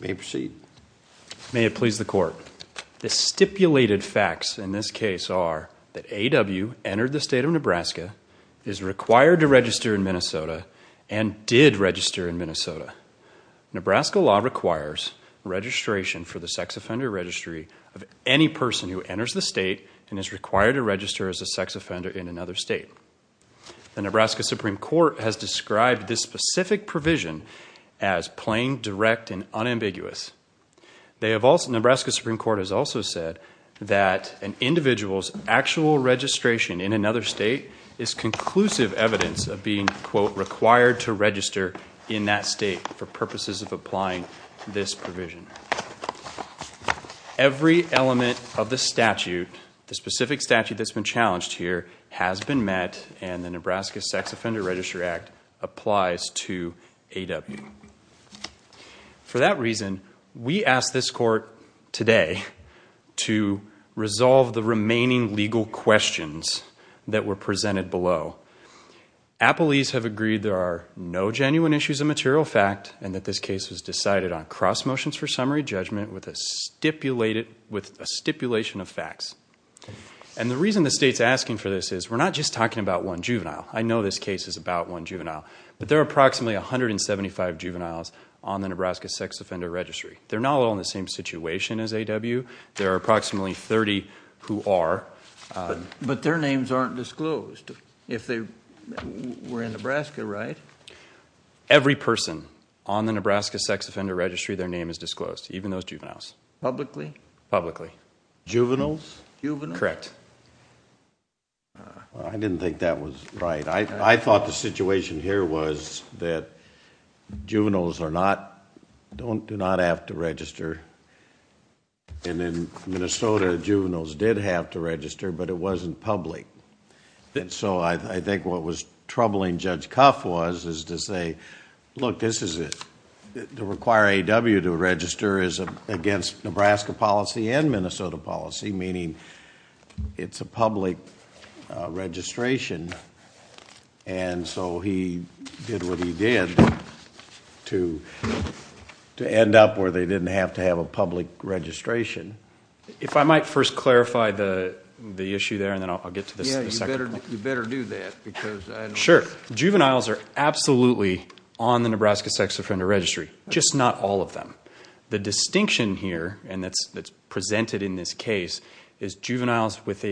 May it please the Court, the stipulated facts in this case are that A.W. entered the state of Nebraska, is required to register in Minnesota, and did register in Minnesota. Nebraska law requires registration for the sex offender registry of any person who enters the state and is required to register as a sex offender in another state. The Nebraska Supreme Court has described this specific provision as plain, direct, and unambiguous. The Nebraska Supreme Court has also said that an individual's actual registration in another state is conclusive evidence of being, quote, required to register in that state for purposes of applying this provision. Every element of the statute, the specific statute that's been challenged here, has been met and the Nebraska Sex Offender Registry Act applies to A.W. For that reason, we ask this Court today to resolve the remaining legal questions that were presented below. Appellees have agreed there are no genuine issues of material fact and that this case was decided on cross motions for summary judgment with a stipulation of facts. And the reason the state's asking for this is, we're not just talking about one juvenile. I know this case is about one juvenile. But there are approximately 175 juveniles on the Nebraska Sex Offender Registry. They're not all in the same situation as A.W. There are approximately 30 who are. But their names aren't disclosed. If they were in Nebraska, right? Every person on the Nebraska Sex Offender Registry, their name is disclosed, even those juveniles. Publicly? Publicly. Juveniles? Correct. I didn't think that was right. I thought the situation here was that juveniles do not have to register. And in Minnesota, juveniles did have to register, but it wasn't public. And so I think what was troubling Judge Cuff was to say, look, this is it. To require A.W. to register is against Nebraska policy and Minnesota policy, meaning it's a public registration. And so he did what he did to end up where they didn't have to have a public registration. If I might first clarify the issue there, and then I'll get to the second point. Yeah, you better do that. Sure. Juveniles are absolutely on the Nebraska Sex Offender Registry, just not all of them. The distinction here, and that's presented in this case, is juveniles with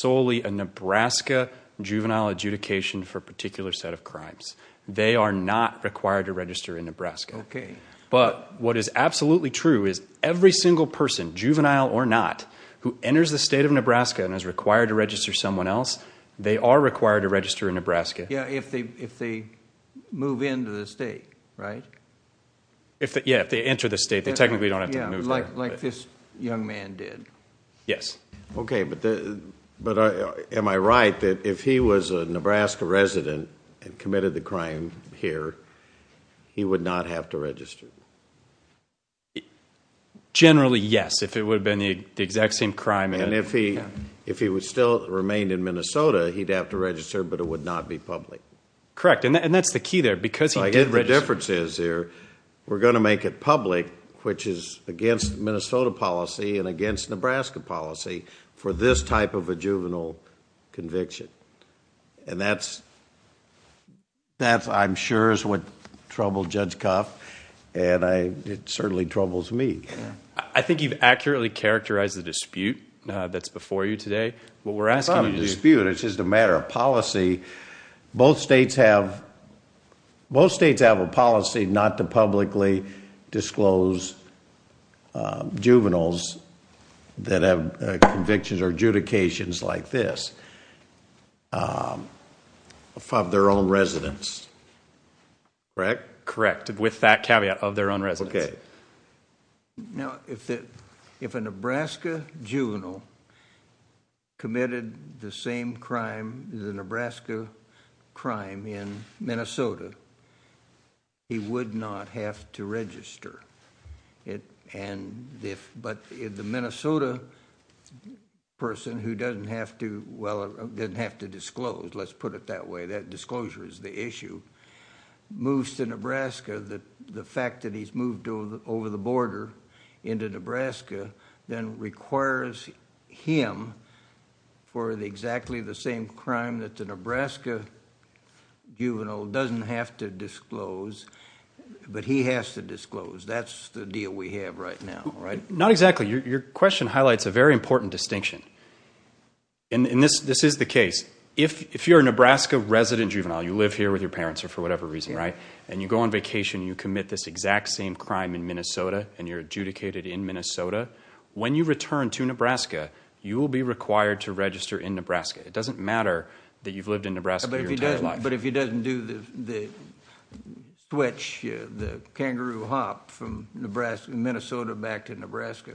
solely a Nebraska juvenile adjudication for a particular set of crimes. They are not required to register in Nebraska. Okay. But what is absolutely true is every single person, juvenile or not, who enters the state of Nebraska and is required to register someone else, they are required to register in Nebraska. Yeah, if they move into the state, right? Yeah, if they enter the state, they technically don't have to move there. Like this young man did. Yes. Okay, but am I right that if he was a Nebraska resident and committed the crime here, he would not have to register? Generally, yes, if it would have been the exact same crime. And if he still remained in Minnesota, he'd have to register, but it would not be public. Correct, and that's the key there. So I get the differences here. We're going to make it public, which is against Minnesota policy and against Nebraska policy, for this type of a juvenile conviction. And that, I'm sure, is what troubled Judge Kopp, and it certainly troubles me. I think you've accurately characterized the dispute that's before you today. It's not a dispute. It's just a matter of policy. Both states have a policy not to publicly disclose juveniles that have convictions or adjudications like this of their own residents. Correct? Correct, with that caveat, of their own residents. Now, if a Nebraska juvenile committed the same crime, the Nebraska crime, in Minnesota, he would not have to register. But if the Minnesota person who doesn't have to disclose, let's put it that way, that disclosure is the issue, moves to Nebraska, the fact that he's moved over the border into Nebraska then requires him for exactly the same crime that the Nebraska juvenile doesn't have to disclose, but he has to disclose. That's the deal we have right now, right? Not exactly. Your question highlights a very important distinction, and this is the case. If you're a Nebraska resident juvenile, you live here with your parents or for whatever reason, right, and you go on vacation and you commit this exact same crime in Minnesota and you're adjudicated in Minnesota, when you return to Nebraska, you will be required to register in Nebraska. It doesn't matter that you've lived in Nebraska your entire life. Right, but if he doesn't do the switch, the kangaroo hop from Minnesota back to Nebraska.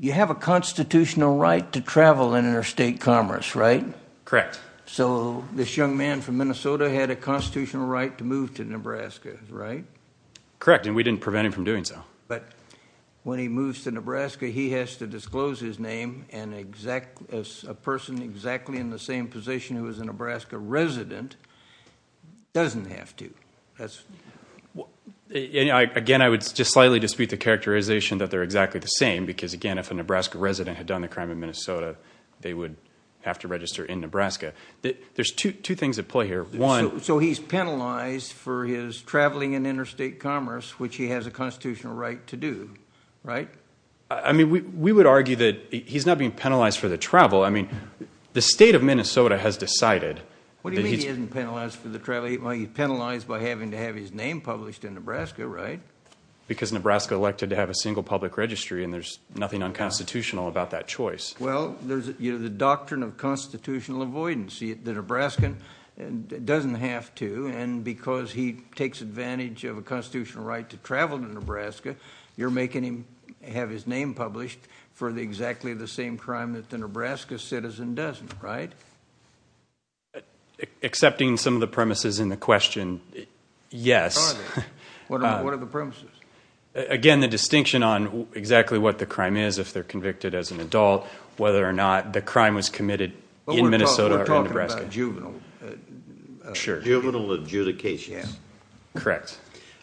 You have a constitutional right to travel in interstate commerce, right? Correct. So this young man from Minnesota had a constitutional right to move to Nebraska, right? Correct, and we didn't prevent him from doing so. But when he moves to Nebraska, he has to disclose his name, and a person exactly in the same position who is a Nebraska resident doesn't have to. Again, I would just slightly dispute the characterization that they're exactly the same because, again, if a Nebraska resident had done the crime in Minnesota, they would have to register in Nebraska. There's two things at play here. So he's penalized for his traveling in interstate commerce, which he has a constitutional right to do, right? I mean, we would argue that he's not being penalized for the travel. I mean, the state of Minnesota has decided. What do you mean he isn't penalized for the travel? He's penalized by having to have his name published in Nebraska, right? Because Nebraska elected to have a single public registry, and there's nothing unconstitutional about that choice. Well, there's the doctrine of constitutional avoidance. You see, the Nebraskan doesn't have to, and because he takes advantage of a constitutional right to travel to Nebraska, you're making him have his name published for exactly the same crime that the Nebraska citizen doesn't, right? Accepting some of the premises in the question, yes. What are they? What are the premises? Again, the distinction on exactly what the crime is if they're convicted as an adult, whether or not the crime was committed in Minnesota or in Nebraska. But we're talking about juvenile. Sure. Juvenile adjudications. Yeah. Correct.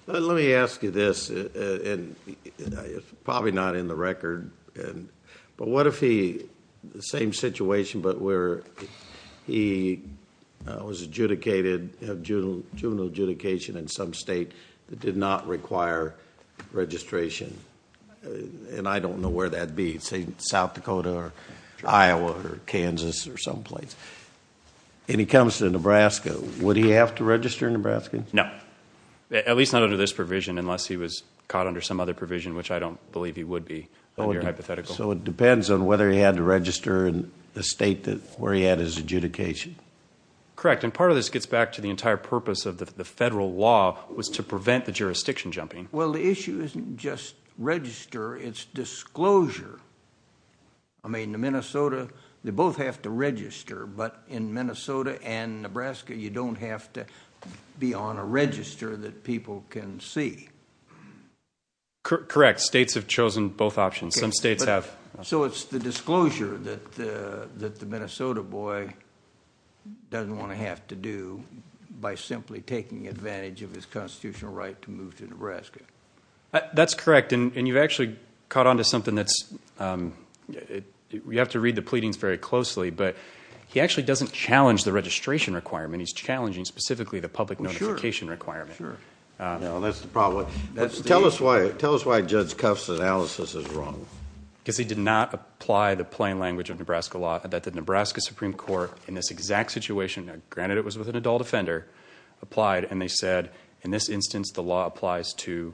Let me ask you this, and it's probably not in the record, but what if he, the same situation but where he was adjudicated, had juvenile adjudication in some state that did not require registration? And I don't know where that'd be, say South Dakota or Iowa or Kansas or someplace. And he comes to Nebraska. Would he have to register in Nebraska? No, at least not under this provision unless he was caught under some other provision, which I don't believe he would be under hypothetical. So it depends on whether he had to register in the state where he had his adjudication. Correct, and part of this gets back to the entire purpose of the federal law was to prevent the jurisdiction jumping. Well, the issue isn't just register. It's disclosure. I mean, in Minnesota they both have to register, but in Minnesota and Nebraska you don't have to be on a register that people can see. Correct. States have chosen both options. Some states have. So it's the disclosure that the Minnesota boy doesn't want to have to do by simply taking advantage of his constitutional right to move to Nebraska. That's correct, and you've actually caught on to something that's – you have to read the pleadings very closely, but he actually doesn't challenge the registration requirement. He's challenging specifically the public notification requirement. Well, that's the problem. Tell us why Judge Kuff's analysis is wrong. Because he did not apply the plain language of Nebraska law that the Nebraska Supreme Court, in this exact situation, granted it was with an adult offender, applied, and they said in this instance the law applies to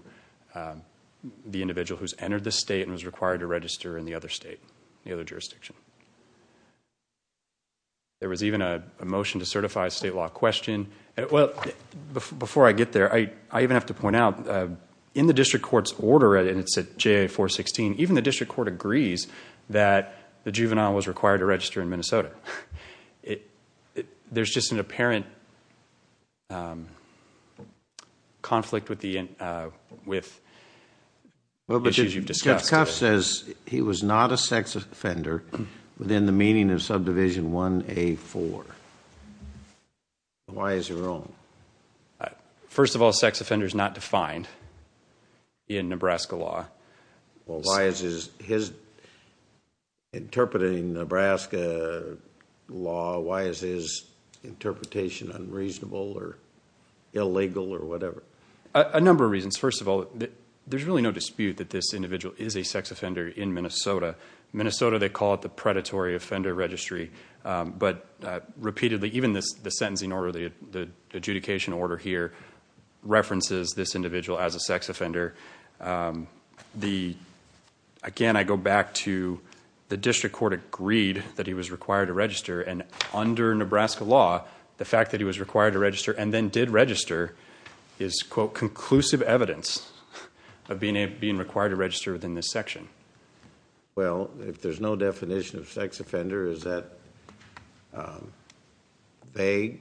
the individual who's entered the state and was required to register in the other state, the other jurisdiction. There was even a motion to certify a state law question. Well, before I get there, I even have to point out in the district court's order, and it's at JA-416, even the district court agrees that the juvenile was required to register in Minnesota. There's just an apparent conflict with issues you've discussed. Judge Kuff says he was not a sex offender within the meaning of subdivision 1A-4. Why is he wrong? First of all, sex offender is not defined in Nebraska law. Well, why is his interpreting Nebraska law, why is his interpretation unreasonable or illegal or whatever? A number of reasons. First of all, there's really no dispute that this individual is a sex offender in Minnesota. In Minnesota, they call it the predatory offender registry. But repeatedly, even the sentencing order, the adjudication order here, references this individual as a sex offender. Again, I go back to the district court agreed that he was required to register, and under Nebraska law, the fact that he was required to register and then did register is, quote, conclusive evidence of being required to register within this section. Well, if there's no definition of sex offender, is that vague,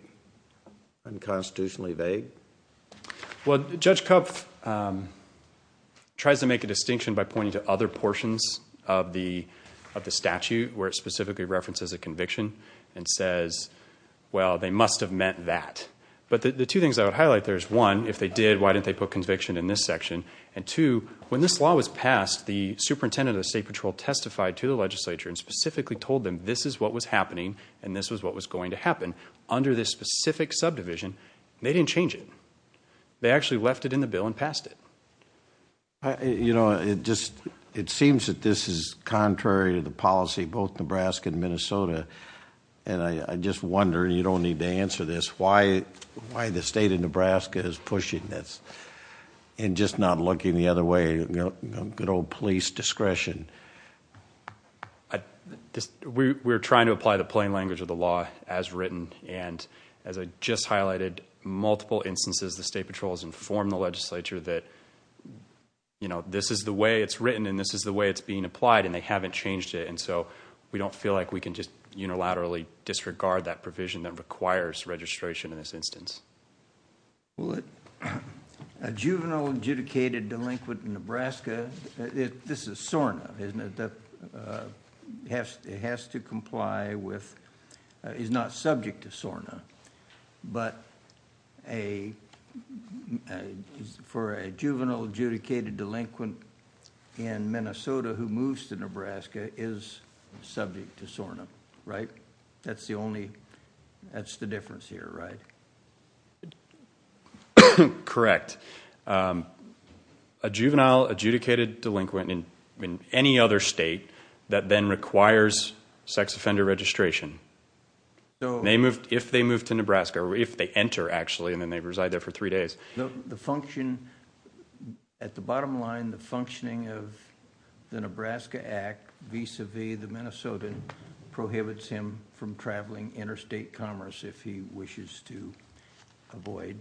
unconstitutionally vague? Well, Judge Kuff tries to make a distinction by pointing to other portions of the statute where it specifically references a conviction and says, well, they must have meant that. But the two things I would highlight there is, one, if they did, why didn't they put conviction in this section? And two, when this law was passed, the superintendent of the state patrol testified to the legislature and specifically told them this is what was happening and this was what was going to happen under this specific subdivision, and they didn't change it. They actually left it in the bill and passed it. You know, it seems that this is contrary to the policy of both Nebraska and Minnesota, and I just wonder, and you don't need to answer this, why the state of Nebraska is pushing this and just not looking the other way, you know, good old police discretion? We're trying to apply the plain language of the law as written, and as I just highlighted, multiple instances the state patrols informed the legislature that, you know, this is the way it's written and this is the way it's being applied, and they haven't changed it. And so we don't feel like we can just unilaterally disregard that provision that requires registration in this instance. Well, a juvenile adjudicated delinquent in Nebraska, this is SORNA, isn't it, that has to comply with, is not subject to SORNA, but for a juvenile adjudicated delinquent in Minnesota who moves to Nebraska is subject to SORNA, right? That's the only, that's the difference here, right? Correct. A juvenile adjudicated delinquent in any other state that then requires sex offender registration, if they move to Nebraska, or if they enter, actually, and then they reside there for three days. The function, at the bottom line, the functioning of the Nebraska Act vis-à-vis the Minnesotan prohibits him from traveling interstate commerce if he wishes to avoid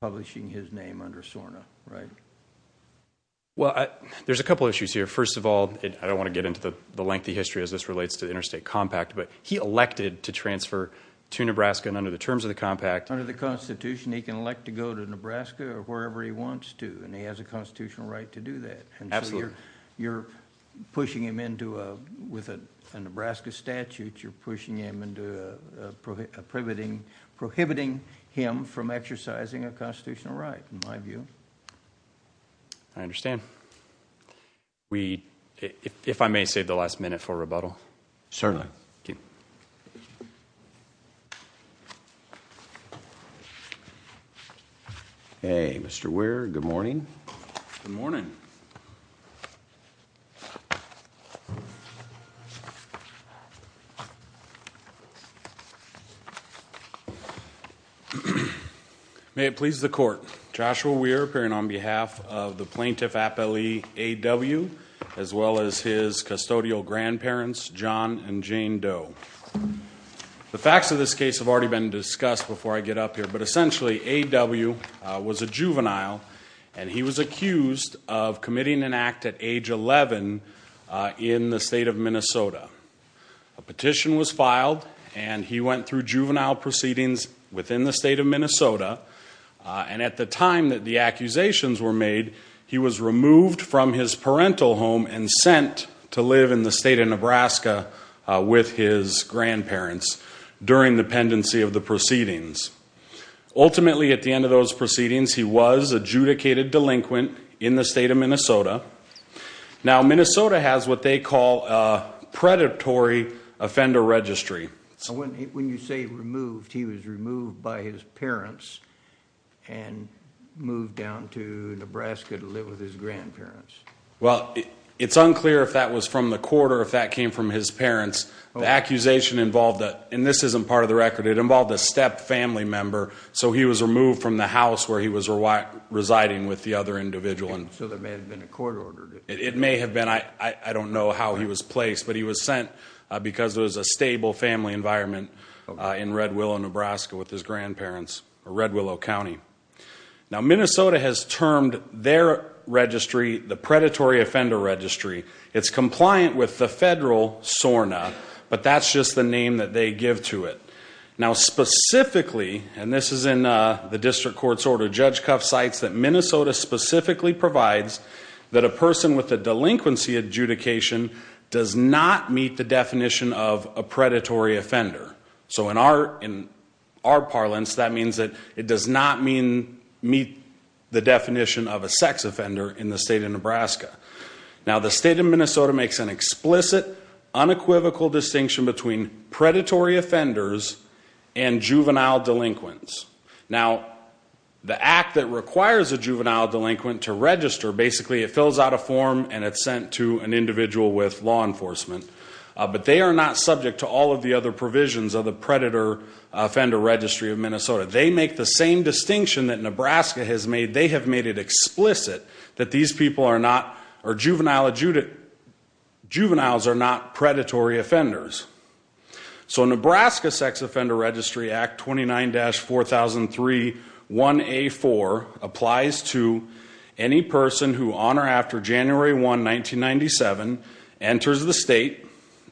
publishing his name under SORNA, right? Well, there's a couple issues here. First of all, I don't want to get into the lengthy history as this relates to the interstate compact, but he elected to transfer to Nebraska and under the terms of the compact. Under the Constitution, he can elect to go to Nebraska or wherever he wants to, and he has a constitutional right to do that. Absolutely. And so you're pushing him into a, with a Nebraska statute, you're pushing him into prohibiting him from exercising a constitutional right, in my view. I understand. Certainly. Thank you. Hey, Mr. Weir, good morning. Good morning. May it please the Court. Joshua Weir, appearing on behalf of the Plaintiff Appellee A.W., as well as his custodial grandparents, John and Jane Doe. The facts of this case have already been discussed before I get up here, but essentially A.W. was a juvenile, and he was accused of committing an act at age 11 in the state of Minnesota. A petition was filed, and he went through juvenile proceedings within the state of Minnesota, and at the time that the accusations were made, he was removed from his parental home and sent to live in the state of Nebraska with his grandparents during the pendency of the proceedings. Ultimately, at the end of those proceedings, he was adjudicated delinquent in the state of Minnesota. Now, Minnesota has what they call a predatory offender registry. When you say removed, he was removed by his parents and moved down to Nebraska to live with his grandparents. Well, it's unclear if that was from the court or if that came from his parents. The accusation involved a, and this isn't part of the record, it involved a step family member, so he was removed from the house where he was residing with the other individual. So there may have been a court order. It may have been. I don't know how he was placed, but he was sent because there was a stable family environment in Red Willow, Nebraska with his grandparents, or Red Willow County. Now, Minnesota has termed their registry the predatory offender registry. It's compliant with the federal SORNA, but that's just the name that they give to it. Now, specifically, and this is in the district court's order, that Minnesota specifically provides that a person with a delinquency adjudication does not meet the definition of a predatory offender. So in our parlance, that means that it does not meet the definition of a sex offender in the state of Nebraska. Now, the state of Minnesota makes an explicit, unequivocal distinction between predatory offenders and juvenile delinquents. Now, the act that requires a juvenile delinquent to register, basically it fills out a form and it's sent to an individual with law enforcement. But they are not subject to all of the other provisions of the predator offender registry of Minnesota. They make the same distinction that Nebraska has made. They have made it explicit that these people are not, or juveniles are not predatory offenders. So Nebraska Sex Offender Registry Act 29-4003 1A4 applies to any person who on or after January 1, 1997, enters the state.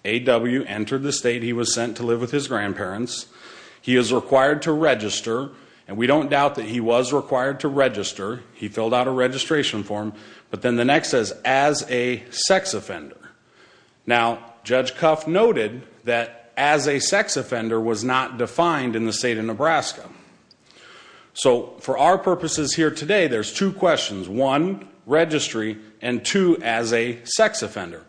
A.W. entered the state. He was sent to live with his grandparents. He is required to register, and we don't doubt that he was required to register. He filled out a registration form. But then the next says, as a sex offender. Now, Judge Cuff noted that as a sex offender was not defined in the state of Nebraska. So for our purposes here today, there's two questions. One, registry, and two, as a sex offender.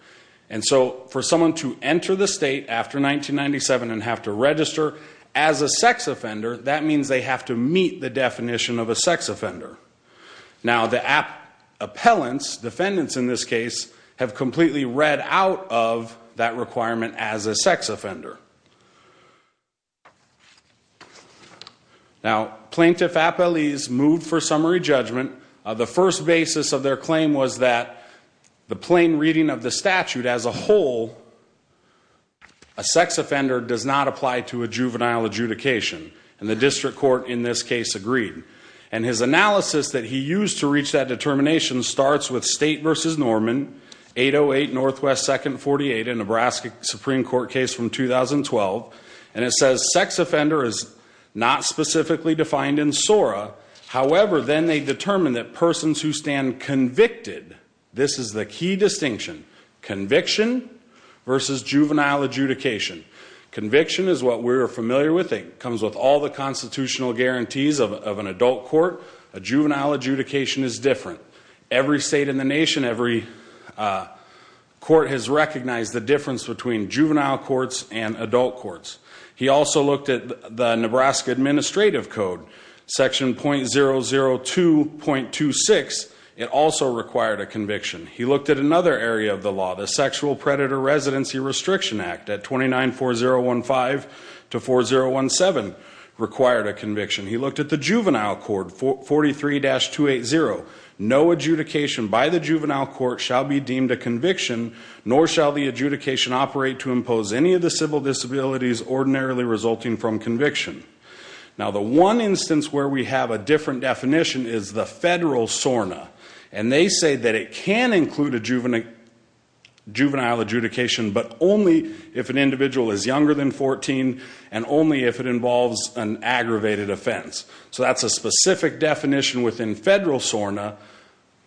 And so for someone to enter the state after 1997 and have to register as a sex offender, that means they have to meet the definition of a sex offender. Now, the appellants, defendants in this case, have completely read out of that requirement as a sex offender. Now, plaintiff appellees moved for summary judgment. The first basis of their claim was that the plain reading of the statute as a whole, a sex offender does not apply to a juvenile adjudication. And the district court in this case agreed. And his analysis that he used to reach that determination starts with State v. Norman, 808 NW 2nd 48, a Nebraska Supreme Court case from 2012. And it says sex offender is not specifically defined in SORA. However, then they determine that persons who stand convicted, this is the key distinction, conviction versus juvenile adjudication. Conviction is what we're familiar with. It comes with all the constitutional guarantees of an adult court. A juvenile adjudication is different. Every state in the nation, every court has recognized the difference between juvenile courts and adult courts. He also looked at the Nebraska Administrative Code, Section .002.26. It also required a conviction. He looked at another area of the law, the Sexual Predator Residency Restriction Act at 294015 to 4017 required a conviction. He looked at the juvenile court, 43-280. No adjudication by the juvenile court shall be deemed a conviction, nor shall the adjudication operate to impose any of the civil disabilities ordinarily resulting from conviction. Now, the one instance where we have a different definition is the federal SORNA. And they say that it can include a juvenile adjudication, but only if an individual is younger than 14 and only if it involves an aggravated offense. So that's a specific definition within federal SORNA.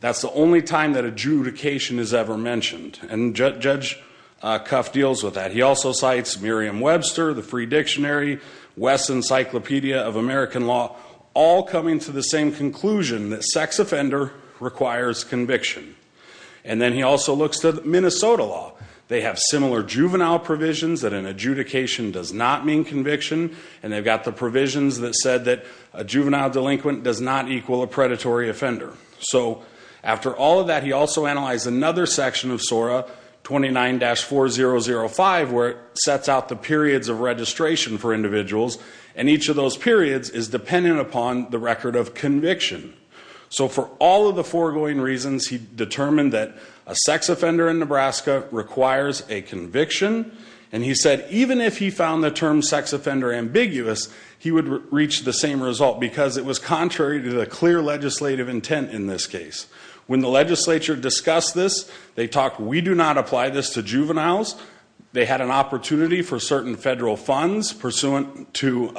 That's the only time that adjudication is ever mentioned. And Judge Cuff deals with that. He also cites Merriam-Webster, the Free Dictionary, West Encyclopedia of American Law, all coming to the same conclusion that sex offender requires conviction. And then he also looks to Minnesota law. They have similar juvenile provisions that an adjudication does not mean conviction, and they've got the provisions that said that a juvenile delinquent does not equal a predatory offender. So after all of that, he also analyzed another section of SORNA, 29-4005, where it sets out the periods of registration for individuals. And each of those periods is dependent upon the record of conviction. So for all of the foregoing reasons, he determined that a sex offender in Nebraska requires a conviction. And he said even if he found the term sex offender ambiguous, he would reach the same result because it was contrary to the clear legislative intent in this case. When the legislature discussed this, they talked, we do not apply this to juveniles. They had an opportunity for certain federal funds pursuant to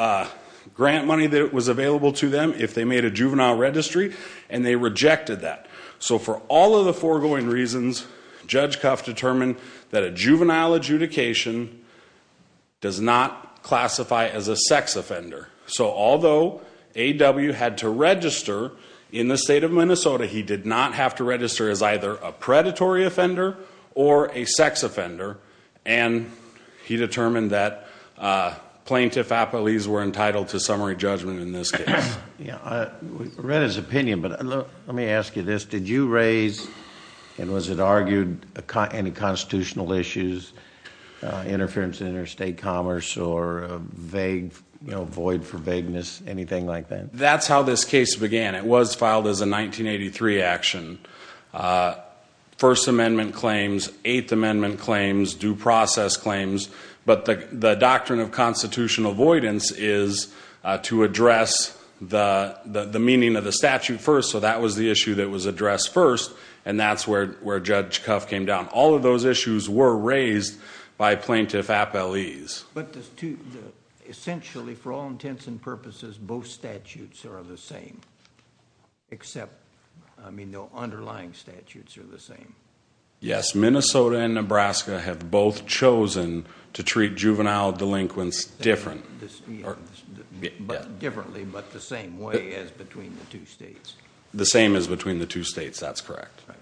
grant money that was available to them if they made a juvenile registry, and they rejected that. So for all of the foregoing reasons, Judge Cuff determined that a juvenile adjudication does not classify as a sex offender. So although A.W. had to register in the state of Minnesota, he did not have to register as either a predatory offender or a sex offender. And he determined that plaintiff apologies were entitled to summary judgment in this case. I read his opinion, but let me ask you this. Did you raise and was it argued any constitutional issues, interference in interstate commerce or a void for vagueness, anything like that? That's how this case began. It was filed as a 1983 action. First Amendment claims, Eighth Amendment claims, due process claims, but the doctrine of constitutional voidance is to address the meaning of the statute first, so that was the issue that was addressed first, and that's where Judge Cuff came down. All of those issues were raised by plaintiff apologies. But essentially, for all intents and purposes, both statutes are the same, except the underlying statutes are the same. Yes, Minnesota and Nebraska have both chosen to treat juvenile delinquents differently. Differently, but the same way as between the two states. The same as between the two states, that's correct. Right.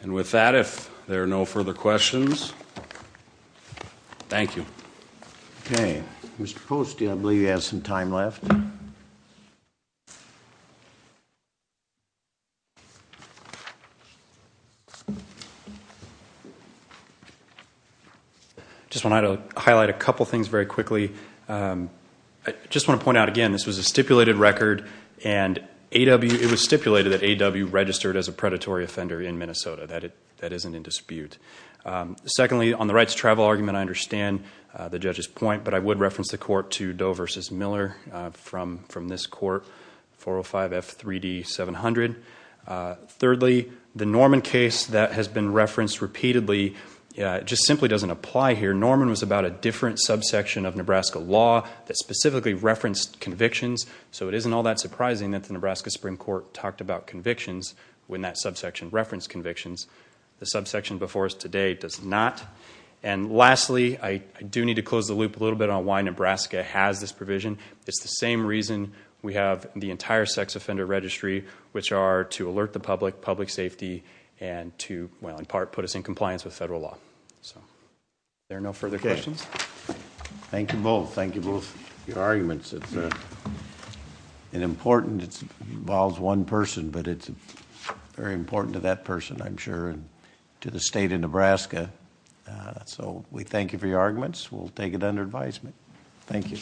And with that, if there are no further questions, thank you. Okay. Mr. Poste, I believe you have some time left. I just want to highlight a couple things very quickly. I just want to point out again, this was a stipulated record, and it was stipulated that A.W. registered as a predatory offender in Minnesota. That isn't in dispute. Secondly, on the rights to travel argument, I understand the judge's point, but I would reference the court to Doe v. Miller from this court, 405F3D700. Thirdly, the Norman case, that has been referenced repeatedly. It just simply doesn't apply here. Remember, Norman was about a different subsection of Nebraska law that specifically referenced convictions, so it isn't all that surprising that the Nebraska Supreme Court talked about convictions when that subsection referenced convictions. The subsection before us today does not. And lastly, I do need to close the loop a little bit on why Nebraska has this provision. It's the same reason we have the entire sex offender registry, which are to alert the public, public safety, and to, well, in part, put us in compliance with federal law. Are there no further questions? Thank you both. Thank you both for your arguments. It's important. It involves one person, but it's very important to that person, I'm sure, and to the state of Nebraska. So we thank you for your arguments. We'll take it under advisement. Thank you.